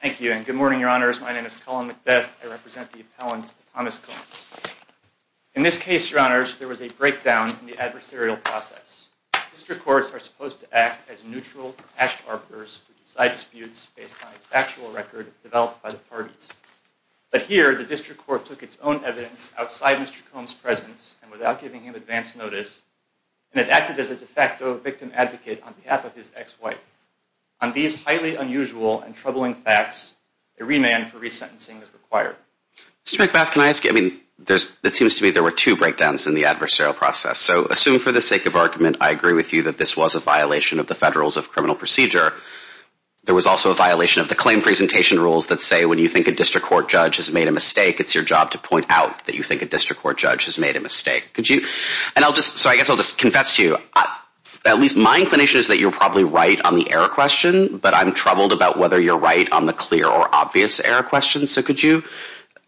Thank you. And good morning, Your Honors. My name is Colin McBeth. I represent the appellant Thomas Combs. In this case, Your Honors, there was a breakdown in the adversarial process. District courts are supposed to act as neutral, compassionate arbiters who decide disputes based on a factual record developed by the parties. But here, the district court took its own evidence outside Mr. Combs' presence and without giving him advance notice, and it acted as a de facto victim advocate on behalf of his ex-wife. On these highly unusual and troubling facts, a remand for resentencing is required. Mr. McBeth, can I ask you, I mean, there's, it seems to me there were two breakdowns in the adversarial process. So assume for the sake of argument, I agree with you that this was a violation of the Federals of Criminal Procedure. There was also a violation of the claim presentation rules that say when you think a district court judge has made a mistake, it's your job to point out that you think a district court judge has made a mistake. Could you, and I'll just, so I guess I'll just confess to you, at least my inclination is that you're probably right on the error question, but I'm troubled about whether you're right on the clear or obvious error question. So could you,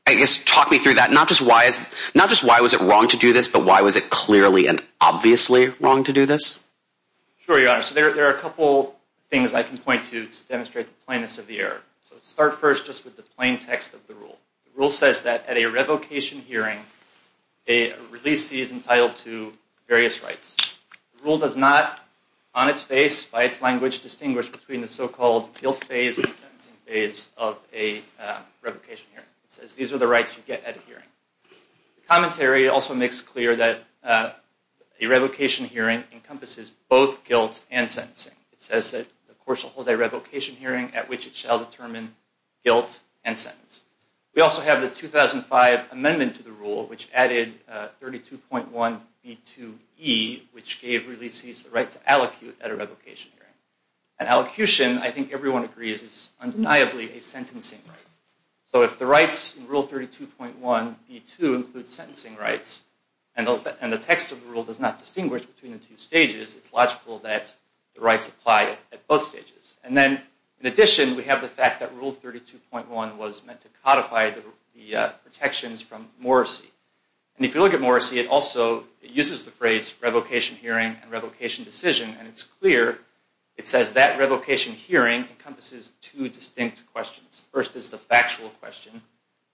I guess, talk me through that? Not just why is, not just why was it wrong to do this, but why was it clearly and obviously wrong to do this? Sure, Your Honor. So there are a couple things I can point to to demonstrate the plainness of the error. So start first just with the plain text of the rule. The rule says that at a revocation hearing, a releasee is entitled to various rights. The rule does not, on its face, by its language, distinguish between the so-called guilt phase and sentencing phase of a revocation hearing. It says these are the rights you get at a hearing. The commentary also makes clear that a revocation hearing encompasses both guilt and sentencing. It says that the court shall hold a revocation hearing at which it shall determine guilt and sentence. We also have the 2005 amendment to the rule, which added 32.1b2e, which gave releasees the right to allocute at a revocation hearing. An allocution, I think everyone agrees, is undeniably a sentencing right. So if the rights in Rule 32.1b2 include sentencing rights, and the text of the rule does not distinguish between the two stages, it's logical that the rights apply at both stages. And then, in addition, we have the fact that Rule 32.1 was meant to codify the protections from Morrissey. And if you look at Morrissey, it also uses the phrase revocation hearing and revocation decision, and it's clear, it says that revocation hearing encompasses two distinct questions. First is the factual question,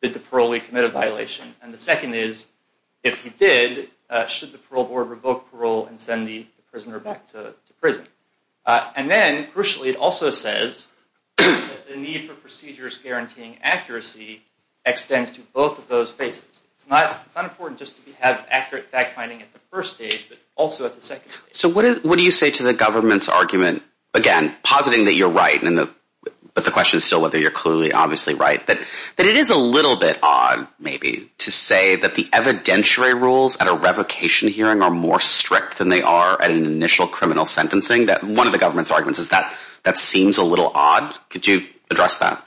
did the parolee commit a violation? And the second is, if he did, should the parole board revoke parole and send the prisoner back to prison? And then, crucially, it also says that the need for procedures guaranteeing accuracy extends to both of those phases. It's not important just to have accurate fact-finding at the first stage, but also at the second stage. So what do you say to the government's argument, again, positing that you're right, but the question is still whether you're clearly obviously right, that it is a little bit odd, maybe, to say that the evidentiary rules at a revocation hearing are more strict than they are at an initial criminal sentencing? That one of the government's arguments is that that seems a little odd. Could you address that?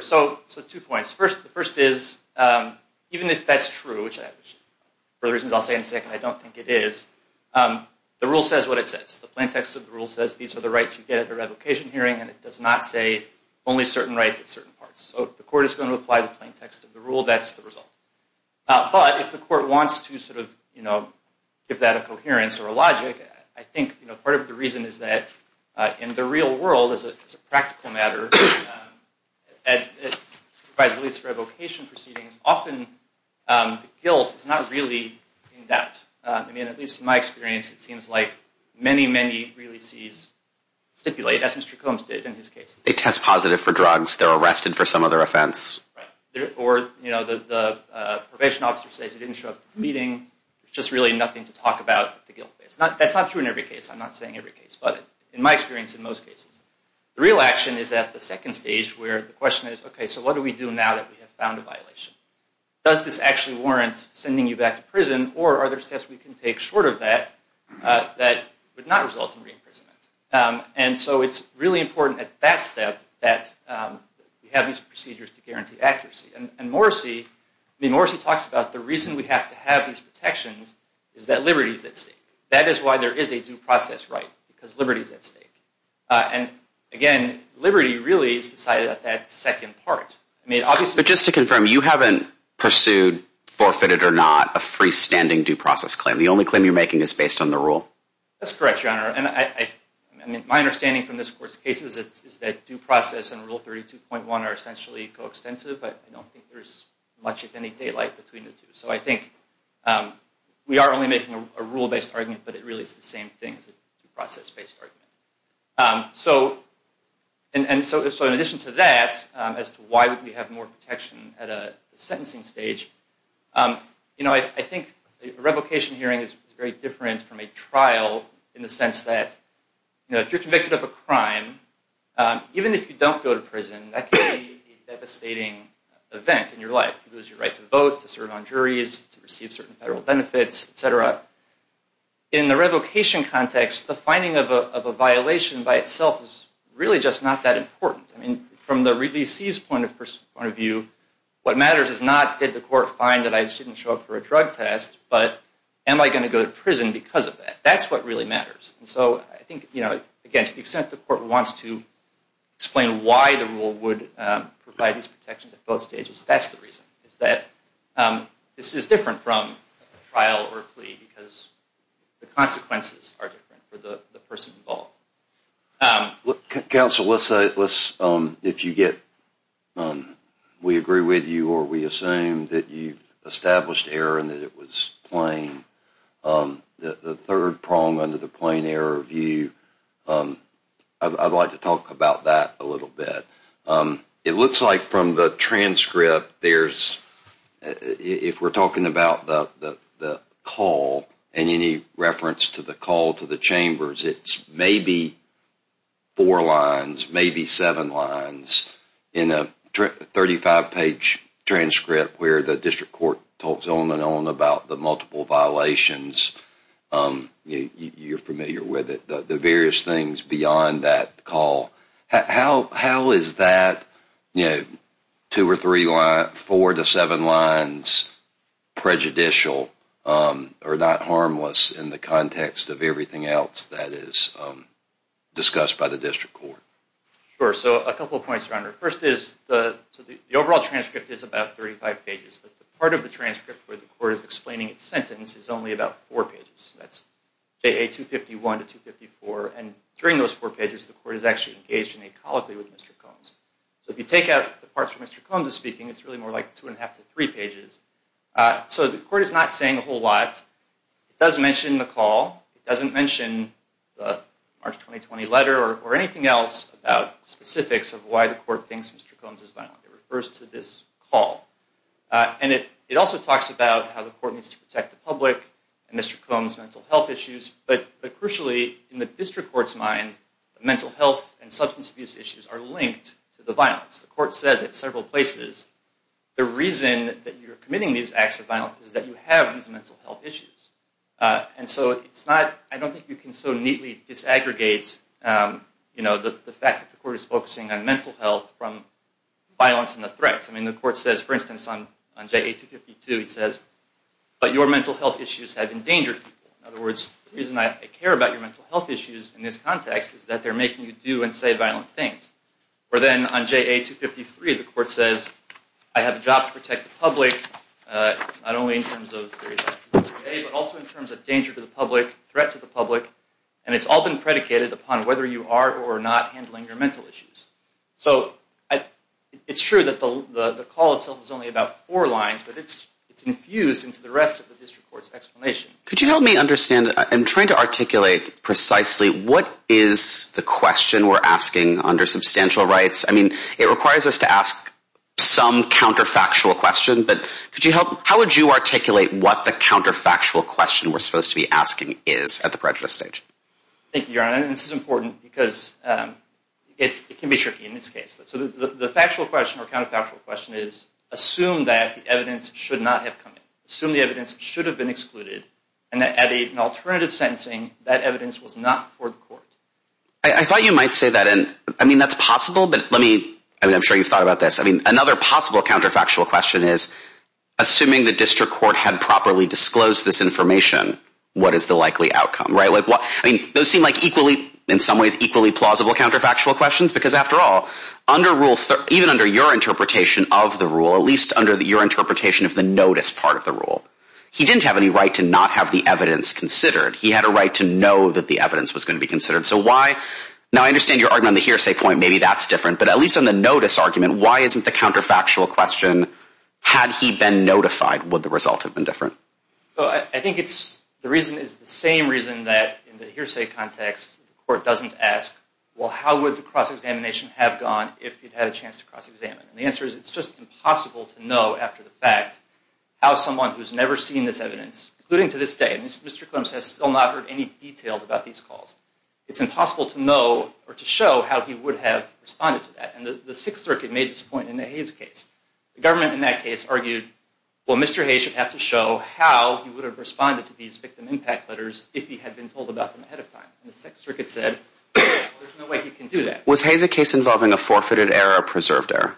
So two points. First is, even if that's true, which for the reasons I'll say in a second I don't think it is, the rule says what it says. The plaintext of the rule says these are the rights you get at a revocation hearing, and it does not say only certain rights at certain parts. So if the court is going to apply the plaintext of the rule, that's the result. But if the court wants to give that a coherence or a logic, I think part of the reason is that in the real world, as a practical matter, at supervised release revocation proceedings, often guilt is not really in doubt. I mean, at least in my experience, it seems like many, many releasees stipulate, as Mr. Combs did in his case. They test positive for drugs. They're arrested for some other offense. Right. Or, you know, the probation officer says he didn't show up to the meeting. There's just really nothing to talk about with the guilt case. That's not true in every case. I'm not saying every case, but in my experience in most cases. The real action is at the second stage where the question is, okay, so what do we do now that we have found a violation? Does this actually warrant sending you back to prison, or are there steps we can take short of that that would not result in re-imprisonment? And so it's really important at that step that we have these procedures to guarantee accuracy. And Morrissey, I mean, Morrissey talks about the reason we have to have these protections is that liberty is at stake. That is why there is a due process right, because liberty is at stake. And again, liberty really is decided at that second part. But just to confirm, you haven't pursued, forfeited or not, a freestanding due process claim. The only claim you're making is based on the rule. That's correct, Your Honor. And my understanding from this court's case is that due process and Rule 32.1 are essentially co-extensive. I don't think there's much, if any, daylight between the two. So I think we are only making a rule-based argument, but it really is the same thing as a due process-based argument. So, in addition to that, as to why we have more protection at a sentencing stage, you know, I think a revocation hearing is very different from a trial in the sense that if you're convicted of a crime, even if you don't go to prison, that can be a devastating event in your life. You lose your right to vote, to serve on juries, to receive certain federal benefits, et cetera. In the revocation context, the finding of a violation by itself is really just not that important. I mean, from the releasee's point of view, what matters is not did the court find that I shouldn't show up for a drug test, but am I going to go to prison because of that? That's what really matters. And so I think, you know, again, to the extent the court wants to explain why the rule would provide these protections at both stages, that's the reason, is that this is different from a trial or a plea because the consequences are different for the person involved. Look, counsel, let's say, if you get, we agree with you or we assume that you established error and that it was plain, the third prong under the plain error view, I'd like to talk about that a little bit. It looks like from the transcript there's, if we're talking about the call and any reference to the call to the chambers, it's maybe four lines, maybe seven lines in a 35-page transcript where the district court talks on and on about the How is that two or three lines, four to seven lines prejudicial or not harmless in the context of everything else that is discussed by the district court? Sure, so a couple of points, Your Honor. First is the overall transcript is about 35 pages, but part of the transcript where the court is explaining its sentence is only about four pages, that's JA 251 to 254, and during those four pages the court is actually engaged in a colloquy with Mr. Combs. So if you take out the parts where Mr. Combs is speaking, it's really more like two and a half to three pages. So the court is not saying a whole lot. It does mention the call. It doesn't mention the March 2020 letter or anything else about specifics of why the court thinks Mr. Combs is violent. It refers to this call. And it also talks about how the court needs to protect the public and Mr. Combs' mental health issues, but crucially in the district court's mind, mental health and substance abuse issues are linked to the violence. The court says at several places, the reason that you're committing these acts of violence is that you have these mental health issues. And so it's not, I don't think you can so neatly disaggregate the fact that the court is focusing on mental health from violence and the threats. I mean, the court says, for instance, on JA 252, it says, but your mental health issues have endangered people. In other words, the reason I care about your mental health issues in this context is that they're making you do and say violent things. Or then on JA 253, the court says, I have a job to protect the public, not only in terms of, but also in terms of danger to the public, threat to the public, and it's all been predicated upon whether you are or are not handling your mental health issues. So it's true that the call itself is only about four lines, but it's infused into the rest of the district court's explanation. Could you help me understand? I'm trying to articulate precisely what is the question we're asking under substantial rights. I mean, it requires us to ask some counterfactual question, but could you help, how would you articulate what the counterfactual question we're supposed to be asking is at the prejudice stage? Thank you, Your Honor, and this is important because it can be tricky in this case. So the factual question or counterfactual question is, assume that the evidence should not have come in. Assume the evidence should have been excluded, and that at an alternative sentencing, that evidence was not before the court. I thought you might say that, and I mean, that's possible, but let me, I mean, I'm sure you've thought about this. I mean, another possible counterfactual question is, assuming the district court had properly disclosed this information, what is the Those seem like equally, in some ways, equally plausible counterfactual questions because after all, under Rule 3, even under your interpretation of the rule, at least under your interpretation of the notice part of the rule, he didn't have any right to not have the evidence considered. He had a right to know that the evidence was going to be considered. So why, now I understand your argument on the hearsay point, maybe that's different, but at least on the notice argument, why isn't the counterfactual question, had he been notified, would the result have been different? Well, I think it's, the reason is the same reason that, in the hearsay context, the court doesn't ask, well, how would the cross-examination have gone if he'd had a chance to cross-examine? And the answer is, it's just impossible to know after the fact how someone who's never seen this evidence, including to this day, Mr. Clemson has still not heard any details about these calls. It's impossible to know or to show how he would have responded to that, and the Sixth Circuit made this point in the Hayes case. The government in that case argued, well, Mr. Hayes should have to show how he would have responded to these victim impact letters if he had been told about them ahead of time. And the Sixth Circuit said, there's no way he can do that. Was Hayes a case involving a forfeited error or a preserved error?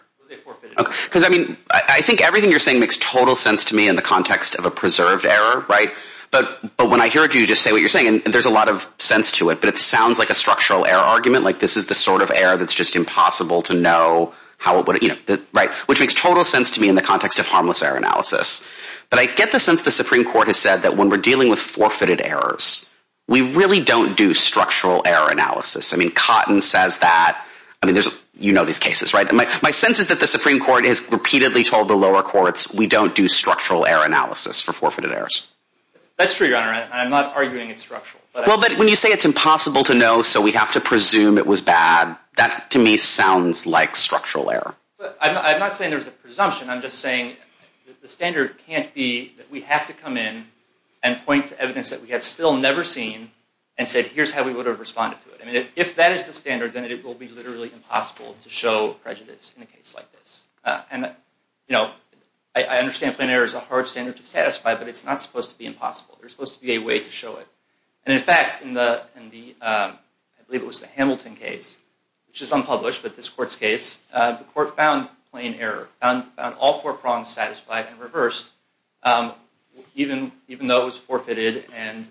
Because, I mean, I think everything you're saying makes total sense to me in the context of a preserved error, right? But when I hear you just say what you're saying, there's a lot of sense to it, but it sounds like a structural error argument, like this is the sort of error that's just impossible to know how it would, you know, right? Which makes total sense to me in the But I get the sense the Supreme Court has said that when we're dealing with forfeited errors, we really don't do structural error analysis. I mean, Cotton says that I mean, you know these cases, right? My sense is that the Supreme Court has repeatedly told the lower courts, we don't do structural error analysis for forfeited errors. That's true, Your Honor, and I'm not arguing it's structural. Well, but when you say it's impossible to know, so we have to presume it was bad, that to me sounds like structural error. I'm not saying there's a presumption, I'm just saying the standard can't be that we have to come in and point to evidence that we have still never seen and say, here's how we would have responded to it. I mean, if that is the standard, then it will be literally impossible to show prejudice in a case like this. And, you know, I understand plain error is a hard standard to satisfy, but it's not supposed to be impossible. There's supposed to be a way to show it. And in fact, in the, I believe it was the Hamilton case, which is unpublished, but this court's case, the court found plain error, found all four prongs satisfied and reversed even though it was forfeited and,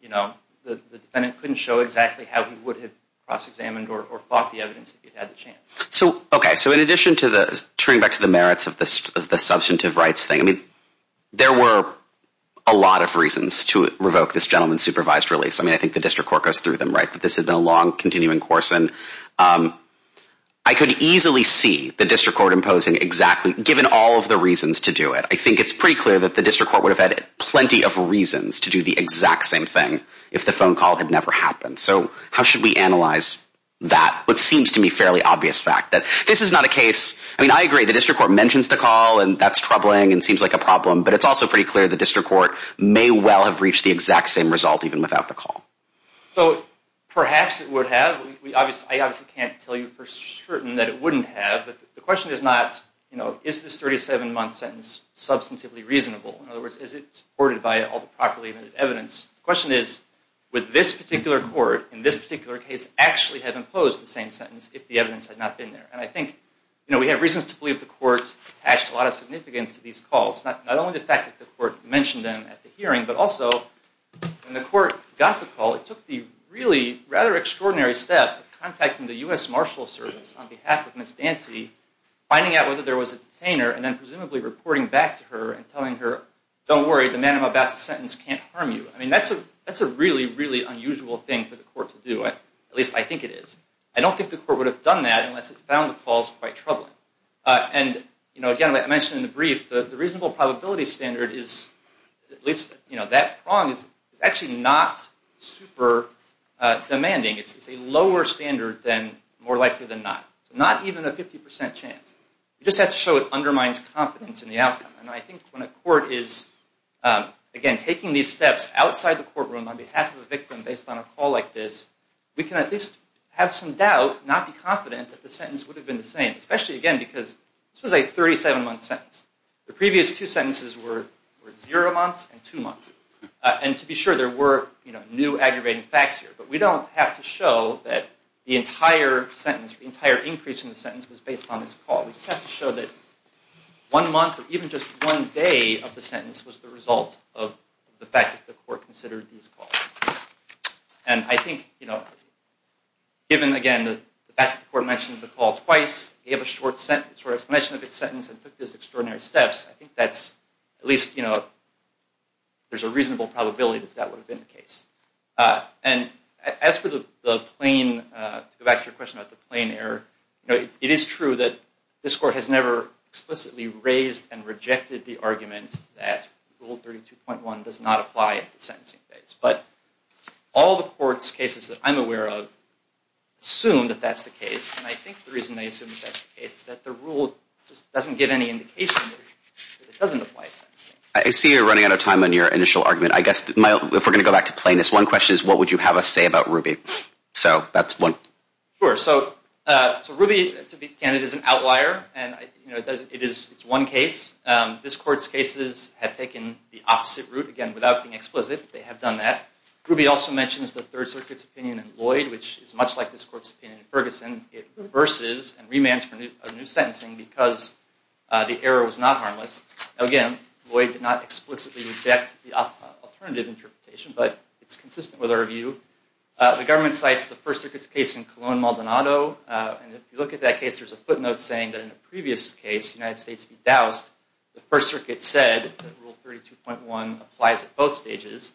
you know, the defendant couldn't show exactly how he would have cross-examined or fought the evidence if he'd had the chance. So, okay, so in addition to the, turning back to the merits of the substantive rights thing, I mean, there were a lot of reasons to revoke this gentleman's supervised release. I mean, I think the district court goes through them, right, but this has been a long, continuing course, and I could easily see the district court imposing exactly given all of the reasons to do it. I think it's pretty clear that the district court would have had plenty of reasons to do the exact same thing if the phone call had never happened. So how should we analyze that, what seems to me fairly obvious fact, that this is not a case, I mean, I agree, the district court mentions the call and that's troubling and seems like a problem, but it's also pretty clear the district court may well have reached the exact same result even without the call. So, perhaps it would have. I obviously can't tell you for certain that it wouldn't have, but the question is not, you know, is this 37 month sentence substantively reasonable? In other words, is it supported by all the properly evidenced evidence? The question is, would this particular court in this particular case actually have imposed the same sentence if the evidence had not been there? And I think, you know, we have reasons to believe the court attached a lot of significance to these calls, not only the fact that the court mentioned them at the hearing, but also when the court got the call, it took the really, rather extraordinary step of contacting the U.S. Marshal Service on behalf of Ms. Dancy finding out whether there was a detainer and then presumably reporting back to her and telling her, don't worry, the man I'm about to sentence can't harm you. I mean, that's a really, really unusual thing for the court to do, at least I think it is. I don't think the court would have done that unless it found the calls quite troubling. And, you know, again, I mentioned in the brief, the reasonable probability standard is at least, you know, that prong is actually not super demanding. It's a lower standard than, more likely than not. Not even a 50% chance. You just have to show it undermines confidence in the outcome. And I think when a court is, again, taking these steps outside the courtroom on behalf of a victim based on a call like this, we can at least have some doubt, not be confident that the sentence would have been the same. Especially, again, because this was a 37-month sentence. The previous two sentences were zero months and two months. And to be sure, there were, you know, new aggravating facts here. But we don't have to show that the entire sentence, the entire increase in the sentence was based on this call. We just have to show that one month or even just one day of the sentence was the result of the fact that the court considered these calls. And I think, you know, given, again, the fact that the court mentioned the call twice, gave a short explanation of its sentence, and took these extraordinary steps, I think that's, at least, you know, there's a reasonable probability that that would have been the case. And as for the plain, to go back to your question about the plain error, you know, it is true that this court has never explicitly raised and rejected the argument that Rule 32.1 does not apply at the sentencing phase. But all the courts' cases that I'm aware of assume that that's the case. And I think the reason they assume that that's the case is that the rule just doesn't give any indication that it doesn't apply at sentencing. I see you're running out of time on your initial argument. I guess, if we're going to go back to plainness, one question is, what would you have us say about Ruby? So, that's one. Sure. So, Ruby, to be candid, is an outlier. And, you know, it is one case. This court's cases have taken the opposite route. Again, without being explicit, they have done that. Ruby also mentions the Third Circuit's opinion in Lloyd, which is much like this court's opinion in Ferguson. It reverses and remands for new sentencing because the error was not harmless. Again, Lloyd did not explicitly reject the alternative interpretation, but it's consistent with our view. The government cites the First Circuit's case in Cologne-Maldonado. And if you look at that case, there's a footnote saying that in the previous case, the United States bedoused. The First Circuit said that Rule 32.1 applies at both stages.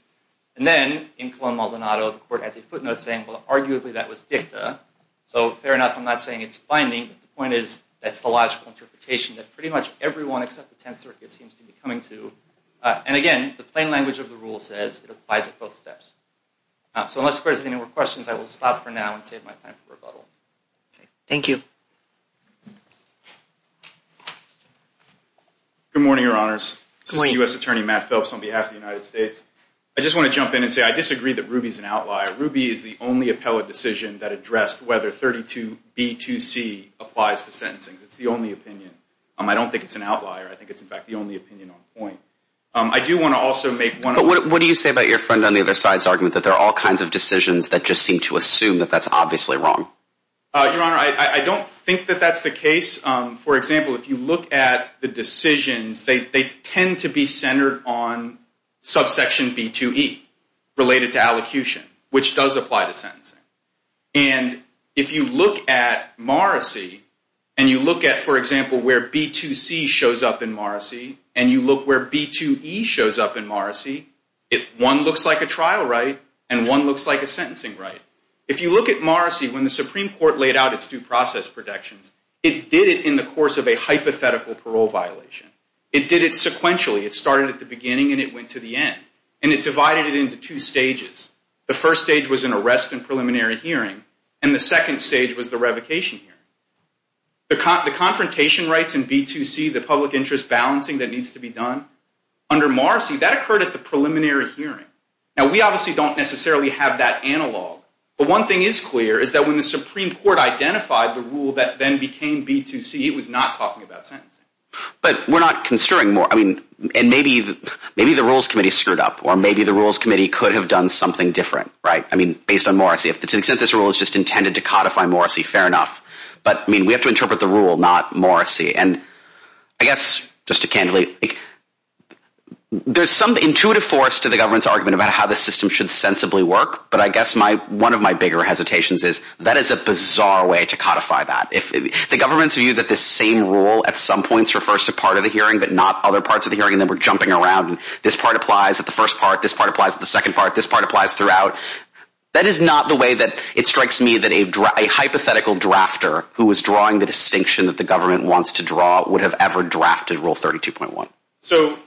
And then, in Cologne-Maldonado, the court has a footnote saying, well, arguably, that was dicta. So, fair enough, I'm not saying it's binding, but the point is, that's the logical interpretation that pretty much everyone except the Tenth Circuit seems to be coming to. And again, the plain language of the rule says it applies at both steps. So, unless the President has any more questions, I will stop for now and save my time for rebuttal. Thank you. Good morning, Your Honors. This is U.S. Attorney Matt Phelps on behalf of the United States. I just want to jump in and say I disagree that Ruby's an outlier. Ruby is the only appellate decision that addressed whether 32.b.2.c applies to sentencing. It's the only opinion. I don't think it's an outlier. I think it's, in fact, the only opinion on point. I do want to also make one... But what do you say about your friend on the other side's argument that there are all kinds of decisions that just seem to assume that that's obviously wrong? Your Honor, I don't think that that's the case. For example, if you look at the decisions, they tend to be centered on subsection b.2.e, related to allocution, which does apply to sentencing. And if you look at Morrissey and you look at, for example, where b.2.c shows up in Morrissey and you look where b.2.e shows up in Morrissey, one looks like a trial right and one looks like a sentencing right. If you look at Morrissey, when the Supreme Court laid out its due process protections, it did it in the course of a hypothetical parole violation. It did it sequentially. It started at the beginning and it went to the end. And it divided it into two stages. The first stage was an arrest and preliminary hearing, and the second stage was the revocation hearing. The confrontation rights in b.2.c, the public interest balancing that needs to be done, under Morrissey that occurred at the preliminary hearing. Now, we obviously don't necessarily have that analog, but one thing is clear is that when the Supreme Court identified the rule that then became b.2.c, it was not talking about sentencing. But we're not construing Morrissey. And maybe the rules committee screwed up, or maybe the rules committee could have done something different, right? Based on Morrissey. To the extent this rule is just intended to codify Morrissey, fair enough. But we have to interpret the rule, not Morrissey. And I guess, just to candidly, there's some intuitive force to the government's argument about how this system should sensibly work, but I guess one of my bigger hesitations is that is a bizarre way to codify that. If the government's view that this same rule at some points refers to part of the hearing, but not other parts of the hearing and then we're jumping around, this part applies at the first part, this part applies at the second part, this part applies throughout, that is not the way that it strikes me that a hypothetical drafter who is drawing the distinction that the government wants to draw would have ever drafted rule 32.1. So,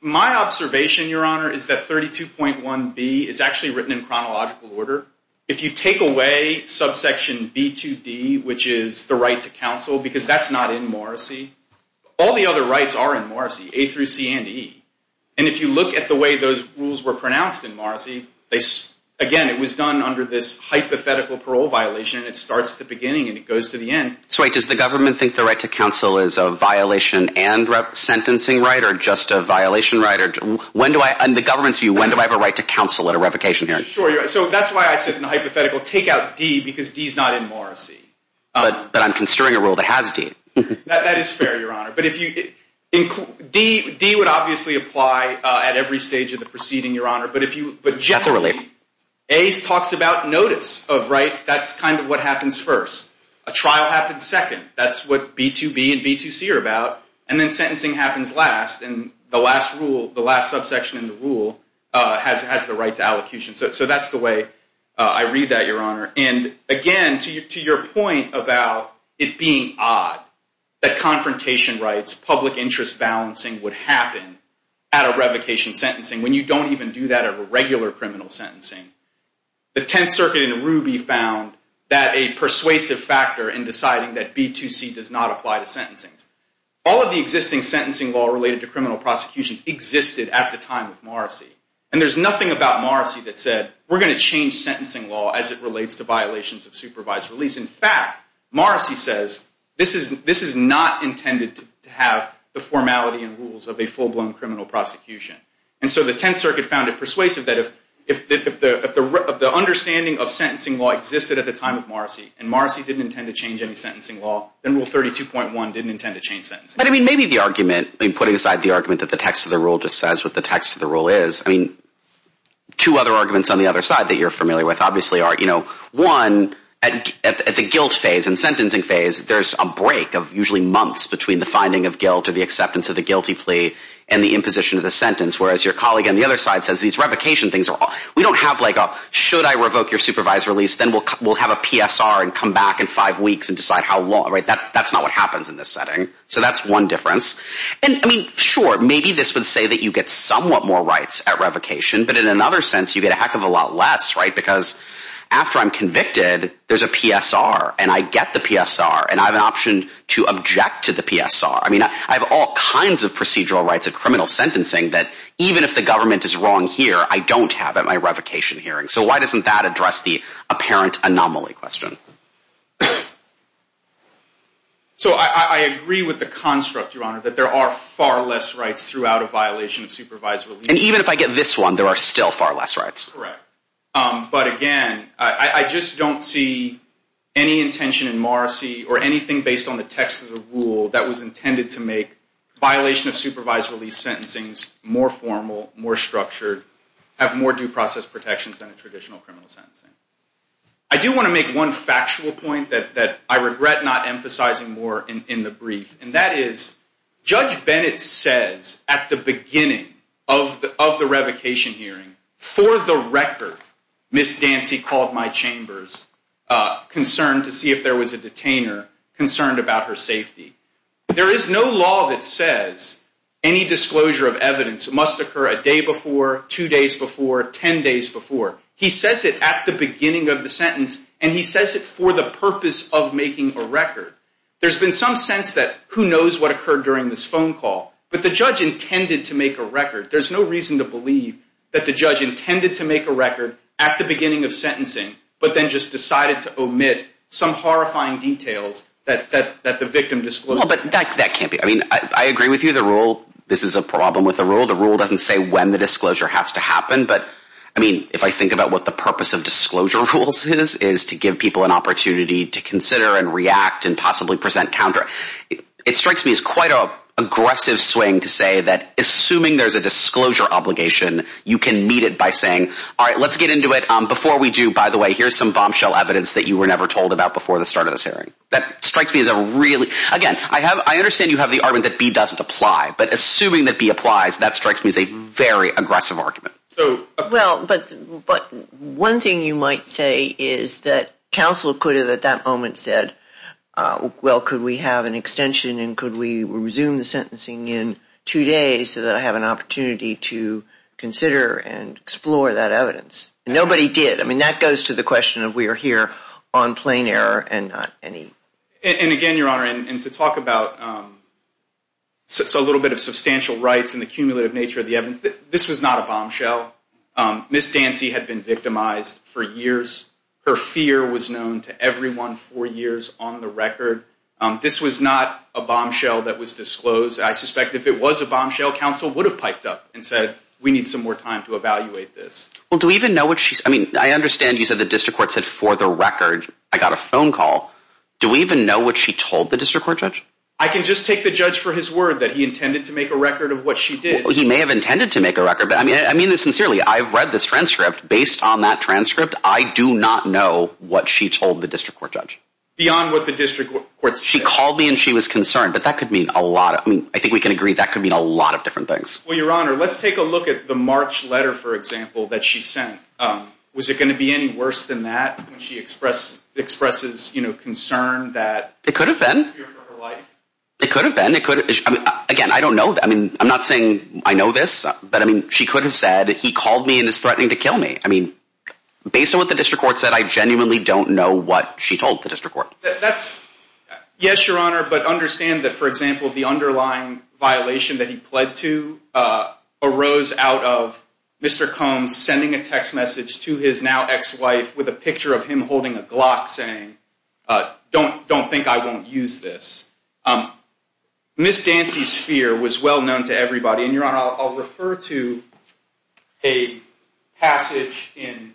my observation, your honor, is that 32.1.b is actually written in chronological order. If you take away subsection b.2.d, which is the right to counsel, because that's not in Morrissey, all the other rights are in Morrissey, a through c and e. And if you look at the way those rules were pronounced in Morrissey, again, it was done under this hypothetical parole violation and it starts at the beginning and it goes to the end. So, wait, does the government think the right to counsel is a violation and sentencing right or just a violation right? And the government's view, when do I have a right to counsel at a revocation hearing? Sure, so that's why I said in the hypothetical, take out d because d is not in Morrissey. But I'm considering a rule that has d. That is fair, your honor. But if you, d would obviously apply at every stage of the proceeding, your honor, but generally a talks about notice of right, that's kind of what happens first. A trial happens second. That's what b.2.b and b.2.c are about. And then sentencing happens last and the last rule, the last subsection in the rule has the right to allocution. So that's the way I read that, your honor. And again, to your point about it being odd that confrontation rights, public interest balancing would happen at a revocation sentencing when you don't even do that at a regular criminal sentencing. The 10th circuit in Ruby found that a persuasive factor in deciding that b.2.c does not apply to sentencing. All of the existing sentencing law related to criminal prosecutions existed at the time of Morrissey. And there's nothing about Morrissey that said we're going to change sentencing law as it relates to violations of supervised release. In fact, Morrissey says this is not intended to have the formality and rules of a full blown criminal prosecution. And so the 10th circuit found it persuasive that if the understanding of sentencing law existed at the time of Morrissey and Morrissey didn't intend to change any sentencing law, then rule 32.1 didn't intend to change sentencing. But I mean, maybe the argument, putting aside the argument that the text of the rule just says what the text of the rule is, I mean, two other arguments on the other side that you're familiar with obviously are, you know, one, at the guilt phase and sentencing phase, there's a break of usually months between the finding of guilt or the acceptance of the guilty plea and the imposition of the sentence. Whereas your colleague on the other side says these revocation things, we don't have like a should I revoke your supervised release, then we'll have a PSR and come back in five weeks and decide how long. That's not what happens in this setting. So that's one difference. And I mean, sure, maybe this would say that you get somewhat more rights at revocation, but in another sense, you get a heck of a lot less, right? Because after I'm convicted, there's a PSR and I get the PSR and I have an option to object to the PSR. I mean, I have all kinds of procedural rights of criminal sentencing that even if the government is wrong here, I don't have at my revocation hearing. So why doesn't that address the apparent anomaly question? So I agree with the point that there are far less rights throughout a violation of supervised release. And even if I get this one, there are still far less rights. Correct. But again, I just don't see any intention in Morrissey or anything based on the text of the rule that was intended to make violation of supervised release sentencings more formal, more structured, have more due process protections than a traditional criminal sentencing. I do want to make one factual point that I regret not emphasizing more in the brief. And that is, Judge Bennett says at the beginning of the revocation hearing, for the record, Ms. Dancy called my chambers concerned to see if there was a detainer concerned about her safety. There is no law that says any disclosure of evidence must occur a day before, two days before, ten days before. He says it at the beginning of the sentence and he says it for the purpose of making a record. There's been some sense that who knows what occurred during this phone call. But the judge intended to make a record. There's no reason to believe that the judge intended to make a record at the beginning of sentencing but then just decided to omit some horrifying details that the victim disclosed. Well, but that can't be. I mean, I agree with you. The rule, this is a problem with the rule. The rule doesn't say when the disclosure has to happen. But, I mean, if I think about what the purpose of disclosure rules is to give people an opportunity to consider and react and possibly present counter, it strikes me as quite an aggressive swing to say that assuming there's a disclosure obligation, you can meet it by saying all right, let's get into it. Before we do, by the way, here's some bombshell evidence that you were never told about before the start of this hearing. That strikes me as a really, again, I understand you have the argument that B doesn't apply. But assuming that B applies, that strikes me as a very aggressive argument. Well, but one thing you might say is that counsel could have at that moment said, well, could we have an extension and could we resume the sentencing in two days so that I have an opportunity to consider and explore that evidence. Nobody did. I mean, that goes to the question of we are here on plain error and not any. And again, Your Honor, and to talk about a little bit of substantial rights and the cumulative nature of the evidence, this was not a bombshell. Ms. Dancy had been victimized for years. Her fear was known to everyone for years on the record. This was not a bombshell that was disclosed. I suspect if it was a bombshell, counsel would have piped up and said we need some more time to evaluate this. Well, do we even know what she said? I mean, I understand you said the district court said for the record I got a phone call. Do we even know what she told the district court judge? I can just take the judge for his word that he intended to make a record of what she did. He may have intended to make a record, but I mean this sincerely. I've read this transcript. Based on that transcript, I do not know what she told the district court judge. Beyond what the district court said? She called me and she was concerned, but that could mean a lot. I mean, I think we can agree that could mean a lot of different things. Well, Your Honor, let's take a look at the March letter, for example, that she sent. Was it going to be any worse than that when she expresses concern that she had a fear for her life? It could have been. Again, I don't know. I mean, I'm not saying I know this, but I mean she could have said he called me and is threatening to kill me. Based on what the district court said, I genuinely don't know what she told the district court. Yes, Your Honor, but understand that, for example, the underlying violation that he pled to arose out of Mr. Combs sending a text message to his now ex-wife with a picture of him holding a Glock saying, don't think I won't use this. Ms. Dancy's fear was well known to everybody. And Your Honor, I'll refer to a passage in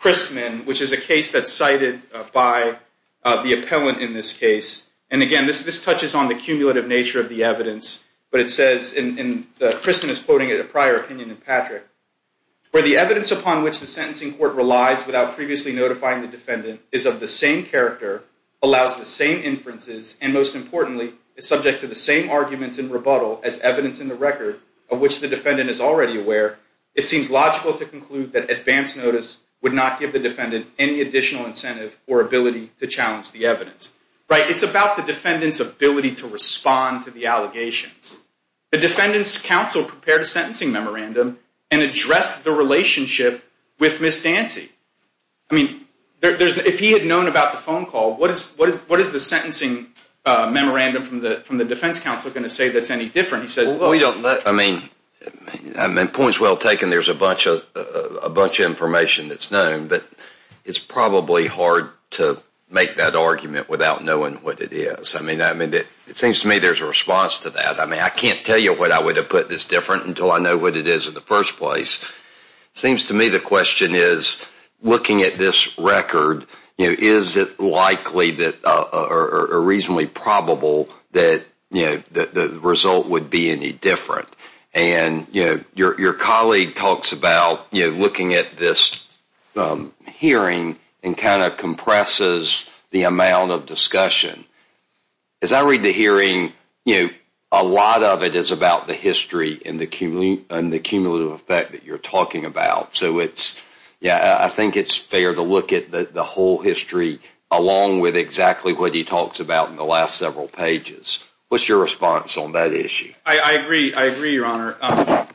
Christman, which is a case that's cited by the appellant in this case. And again, this touches on the cumulative nature of the evidence. But it says, and Christman is quoting a prior opinion in Patrick, where the evidence upon which the sentencing court relies without previously notifying the defendant is of the same character, allows the same inferences, and most importantly, is subject to the same arguments in rebuttal as evidence in the record of which the defendant is already aware, it seems logical to conclude that advance notice would not give the defendant any additional incentive or ability to challenge the evidence. It's about the defendant's ability to respond to the allegations. The defendant's counsel prepared a sentencing memorandum and addressed the relationship with Ms. Dancy. I mean, if he had known about the phone call, what is the sentencing memorandum from the defense counsel going to say that's any different? He says, we don't know. Points well taken, there's a bunch of information that's known, but it's probably hard to make that argument without knowing what it is. It seems to me there's a response to that. I can't tell you what I would have put that's different until I know what it is in the first place. It seems to me the question is, looking at this record, is it likely or reasonably probable that the result would be any different? Your colleague talks about looking at this hearing and kind of compresses the amount of discussion. As I read the hearing, a lot of it is about the history and the cumulative effect that you're talking about. I think it's fair to look at the whole history along with exactly what he talks about in the last several pages. What's your response on that issue? I agree, Your Honor.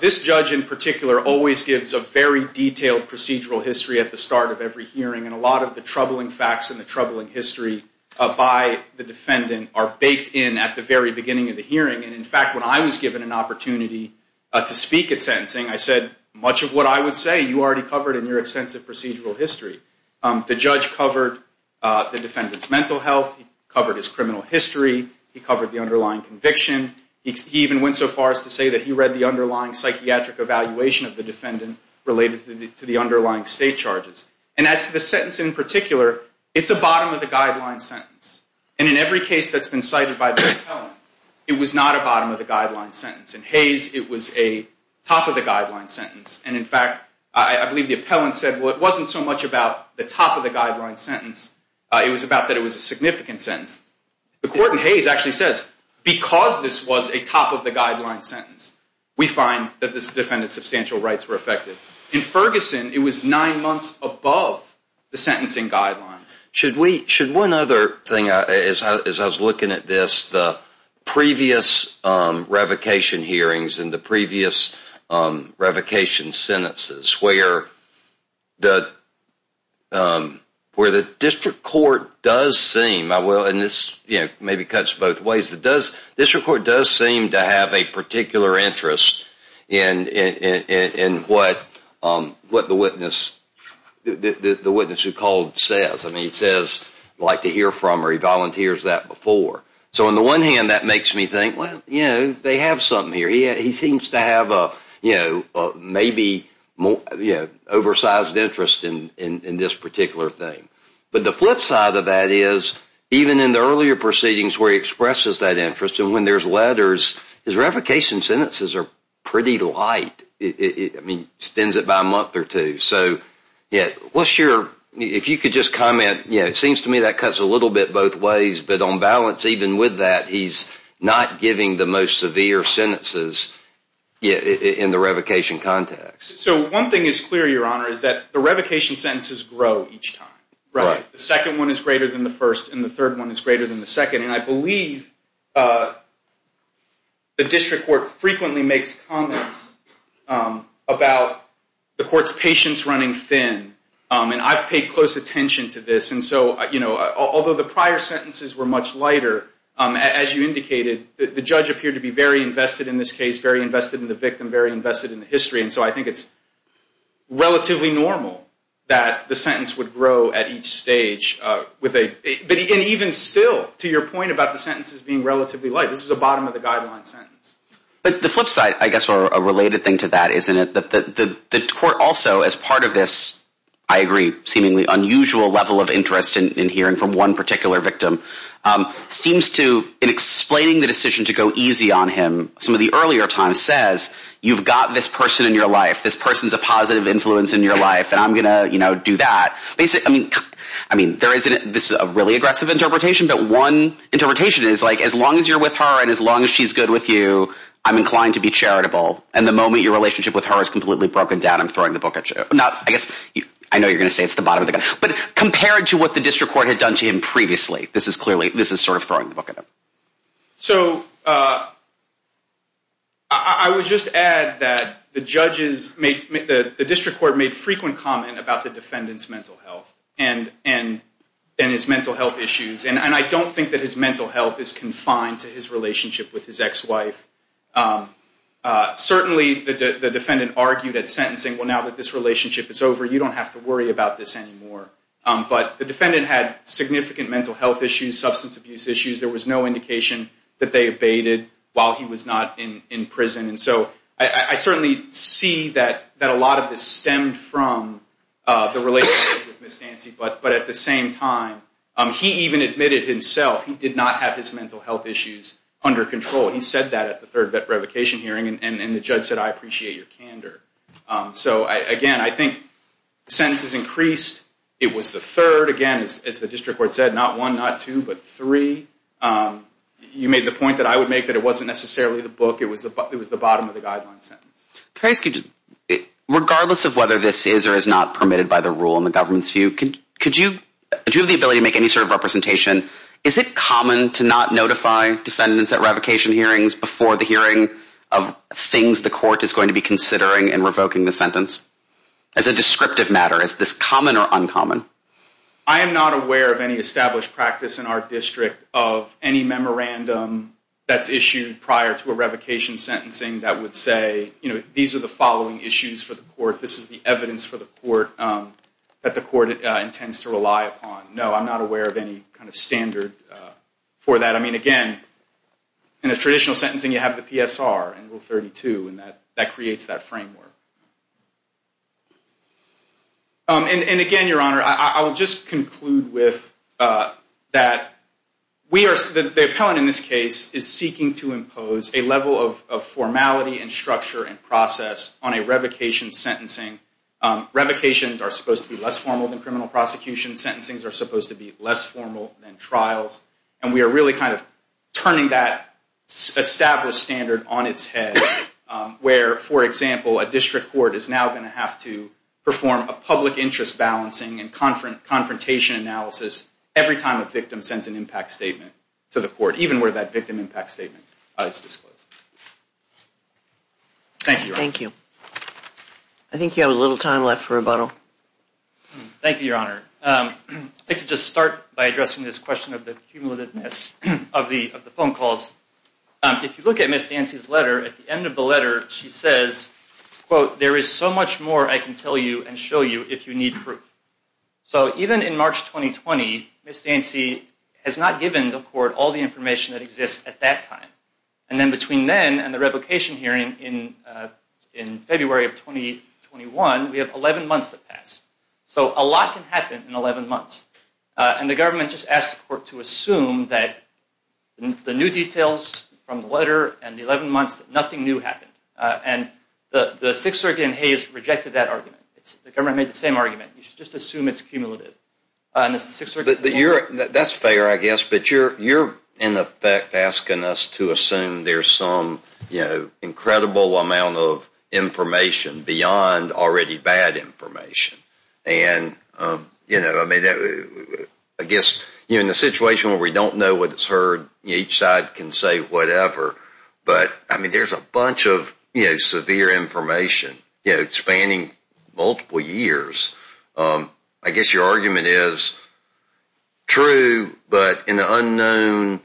This judge in particular always gives a very detailed procedural history at the start of every hearing, and a lot of the troubling facts and the troubling history by the defendant are baked in at the very beginning of the hearing. In fact, when I was given an opportunity to speak at sentencing, I said, much of what I would say you already covered in your extensive procedural history. The judge covered the defendant's mental health. He covered his criminal history. He covered the underlying conviction. He even went so far as to say that he read the underlying psychiatric evaluation of the defendant related to the underlying state charges. As for the sentence in particular, it's a bottom of the guideline sentence. In every case that's been cited by the court, it's a bottom of the guideline sentence. In Hayes, it was a top of the guideline sentence, and in fact, I believe the appellant said, well, it wasn't so much about the top of the guideline sentence. It was about that it was a significant sentence. The court in Hayes actually says, because this was a top of the guideline sentence, we find that this defendant's substantial rights were affected. In Ferguson, it was nine months above the sentencing guidelines. Should one other thing, as I was looking at this, the previous revocation hearings and the previous revocation sentences, where the district court does seem, and this maybe cuts both ways, the district court does seem to have a particular interest in what the witness who called says. He says he'd like to hear from her. He volunteers that before. So on the one hand, that makes me think, well, they have something here. He seems to have maybe an oversized interest in this particular thing. But the flip side of that is, even in the earlier proceedings where he expresses that interest, and when there's letters, his revocation sentences are pretty light. It extends it by a month or two. If you could just comment, it seems to me that cuts a little bit both ways. But on balance, even with that, he's not giving the most severe sentences in the revocation context. So one thing is clear, Your Honor, is that the revocation sentences grow each time. The second one is greater than the first, and the third one is greater than the second. And I believe the district court frequently makes comments about the court's patience running thin. And I've paid close attention to this. And so, although the prior sentences were much lighter, as you indicated, the judge appeared to be very invested in this case, very invested in the victim, very invested in the history. And so I think it's relatively normal that the sentence would grow at each stage. And even still, to your point about the sentences being relatively light, this is the bottom of the guideline sentence. But the flip side, I guess, or a related thing to that, isn't it, that the judge's, I agree, seemingly unusual level of interest in hearing from one particular victim, seems to, in explaining the decision to go easy on him, some of the earlier time says, you've got this person in your life, this person's a positive influence in your life, and I'm going to do that. I mean, this is a really aggressive interpretation, but one interpretation is, as long as you're with her, and as long as she's good with you, I'm inclined to be charitable. And the moment your relationship with her is completely broken down, I'm throwing the book at you. I know you're going to say it's the bottom of the guideline, but compared to what the district court had done to him previously, this is clearly, this is sort of throwing the book at him. So, I would just add that the judges, the district court made frequent comment about the defendant's mental health and his mental health issues. And I don't think that his mental health is confined to his relationship with his ex-wife. Certainly the defendant argued at sentencing, well, now that this relationship is over, you don't have to worry about this anymore. But the defendant had significant mental health issues, substance abuse issues. There was no indication that they abated while he was not in prison. And so, I certainly see that a lot of this stemmed from the relationship with Ms. Nancy, but at the same time, he even admitted himself he did not have his mental health issues under control. He said that at the third revocation hearing, and the judge said, I appreciate your candor. So, again, I think sentences increased. It was the third again, as the district court said, not one, not two, but three. You made the point that I would make that it wasn't necessarily the book. It was the bottom of the guideline sentence. Regardless of whether this is or is not permitted by the rule in the government's view, could you, do you have the ability to make any sort of representation? Is it common to not notify defendants at revocation hearings before the hearing of things the court is going to be considering in revoking the sentence? As a descriptive matter, is this common or uncommon? I am not aware of any established practice in our district of any memorandum that's issued prior to a revocation sentencing that would say, you know, these are the following issues for the court. This is the evidence for the court that the court intends to rely upon. No, I'm not aware of any kind of standard for that. I mean, again, in a traditional sentencing, you have the PSR in Rule 32, and that creates that framework. And again, Your Honor, I will just conclude with that the appellant in this case is seeking to impose a level of formality and structure and process on a revocation sentencing. Revocations are supposed to be less formal than criminal prosecution. Sentencings are supposed to be less formal than trials. And we are really kind of turning that established standard on its head where, for example, a district court is now going to have to perform a public interest balancing and confrontation analysis every time a victim sends an impact statement to the court, even where that victim impact statement is disclosed. Thank you, Your Honor. I think you have a little time left for rebuttal. Thank you, Your Honor. I'd like to just start by addressing this question of the cumulativeness of the phone calls. If you look at Ms. Dancy's letter, at the end of the letter she says, quote, there is so much more I can tell you and show you if you need proof. So even in March 2020, Ms. Dancy has not given the court all the information that exists at that time. And then between then and the revocation hearing in February of 2021, we have 11 months to pass. So a lot can happen in 11 months. And the government just asked the court to assume that the new details from the letter and the 11 months, nothing new happened. And the Sixth Circuit in Hays rejected that argument. The government made the same argument. You should just assume it's cumulative. That's fair, I guess, but you're in effect asking us to assume there's some incredible amount of information beyond already bad information. I guess in a situation where we don't know what's heard, each side can say whatever, but there's a bunch of severe information spanning multiple years. I guess your argument is true, but in a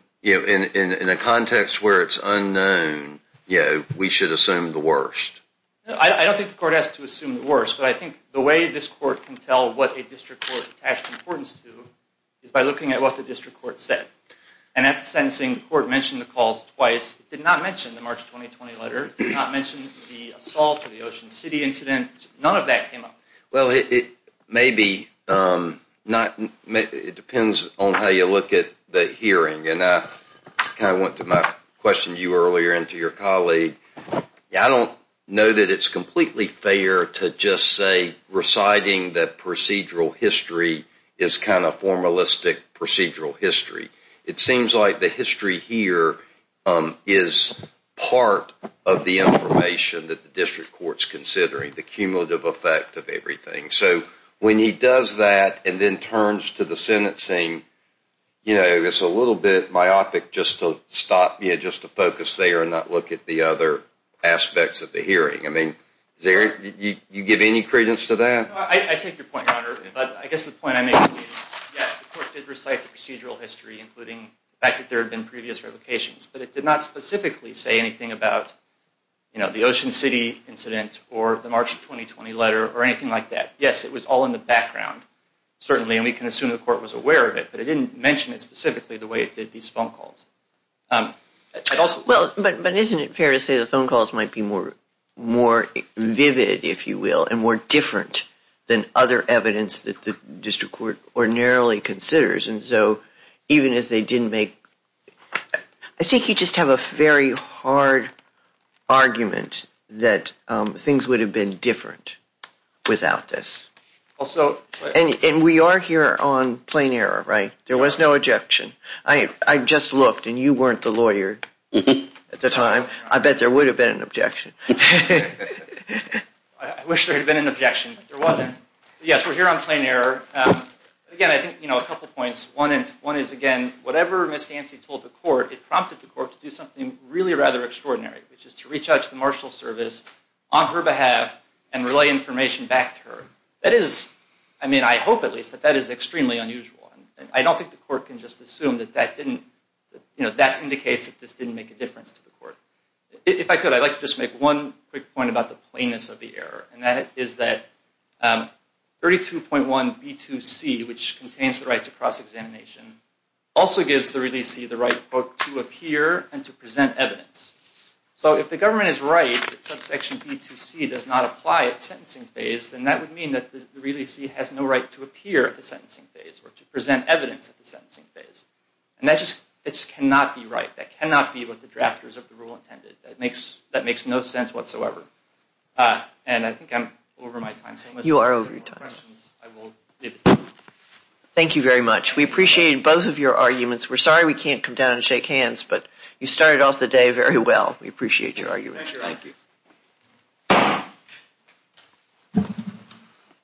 context where it's unknown, we should assume the worst. I don't think the court has to assume the worst, but I think the way this court can tell what a district court attaches importance to is by looking at what the district court said. And at the sentencing, the court mentioned the calls twice. It did not mention the March 2020 letter. It did not mention the assault in the Ocean City incident. None of that came up. Well, it may be it depends on how you look at the hearing. I kind of went to my question to you earlier and to your colleague. I don't know that it's completely fair to just say reciting the procedural history is kind of formalistic procedural history. It seems like the history here is part of the information that the district court's considering, the cumulative effect of everything. So when he does that and then turns to the sentencing, it's a little bit myopic just to focus there and not look at the other aspects of the hearing. You give any credence to that? I take your point, Your Honor, but I guess the point I make is yes, the court did recite the procedural history, including the fact that there had been previous revocations, but it did not specifically say anything about the Ocean City incident or the March 2020 letter or anything like that. Yes, it was all in the background. Certainly, and we can assume the court was aware of it, but it didn't mention it specifically the way it did these phone calls. But isn't it fair to say the phone calls might be more vivid, if you will, and more different than other evidence that the district court ordinarily considers, and so even if they didn't make I think you just have a very hard argument that things would have been different without this. And we are here on plain error, right? There was no objection. I just looked, and you weren't the lawyer at the time. I bet there would have been an objection. I wish there had been an objection, but there wasn't. Yes, we're here on plain error. Again, I think a couple points. One is again, whatever Ms. Dancy told the court, it prompted the court to do something really rather extraordinary, which is to re-judge the marshal service on her behalf and relay information back to her. That is, I mean, I hope at least that that is extremely unusual. I don't think the court can just assume that that didn't that indicates that this didn't make a difference to the court. If I could, I'd like to just make one quick point about the plainness of the error, and that is that 32.1b2c, which contains the right to cross-examination, also gives the releasee the right to appear and to present evidence. So if the government is right that subsection b2c does not apply at sentencing phase, then that would mean that the releasee has no right to appear at the sentencing phase or to present evidence at the sentencing phase. And that just cannot be right. That cannot be what the drafters of the rule intended. That makes no sense whatsoever. And I think I'm over my time, so unless you have more questions, I will leave it there. Thank you very much. We appreciate both of your arguments. We're sorry we can't come down and shake hands, but you started off the day very well. We appreciate your arguments. Thank you.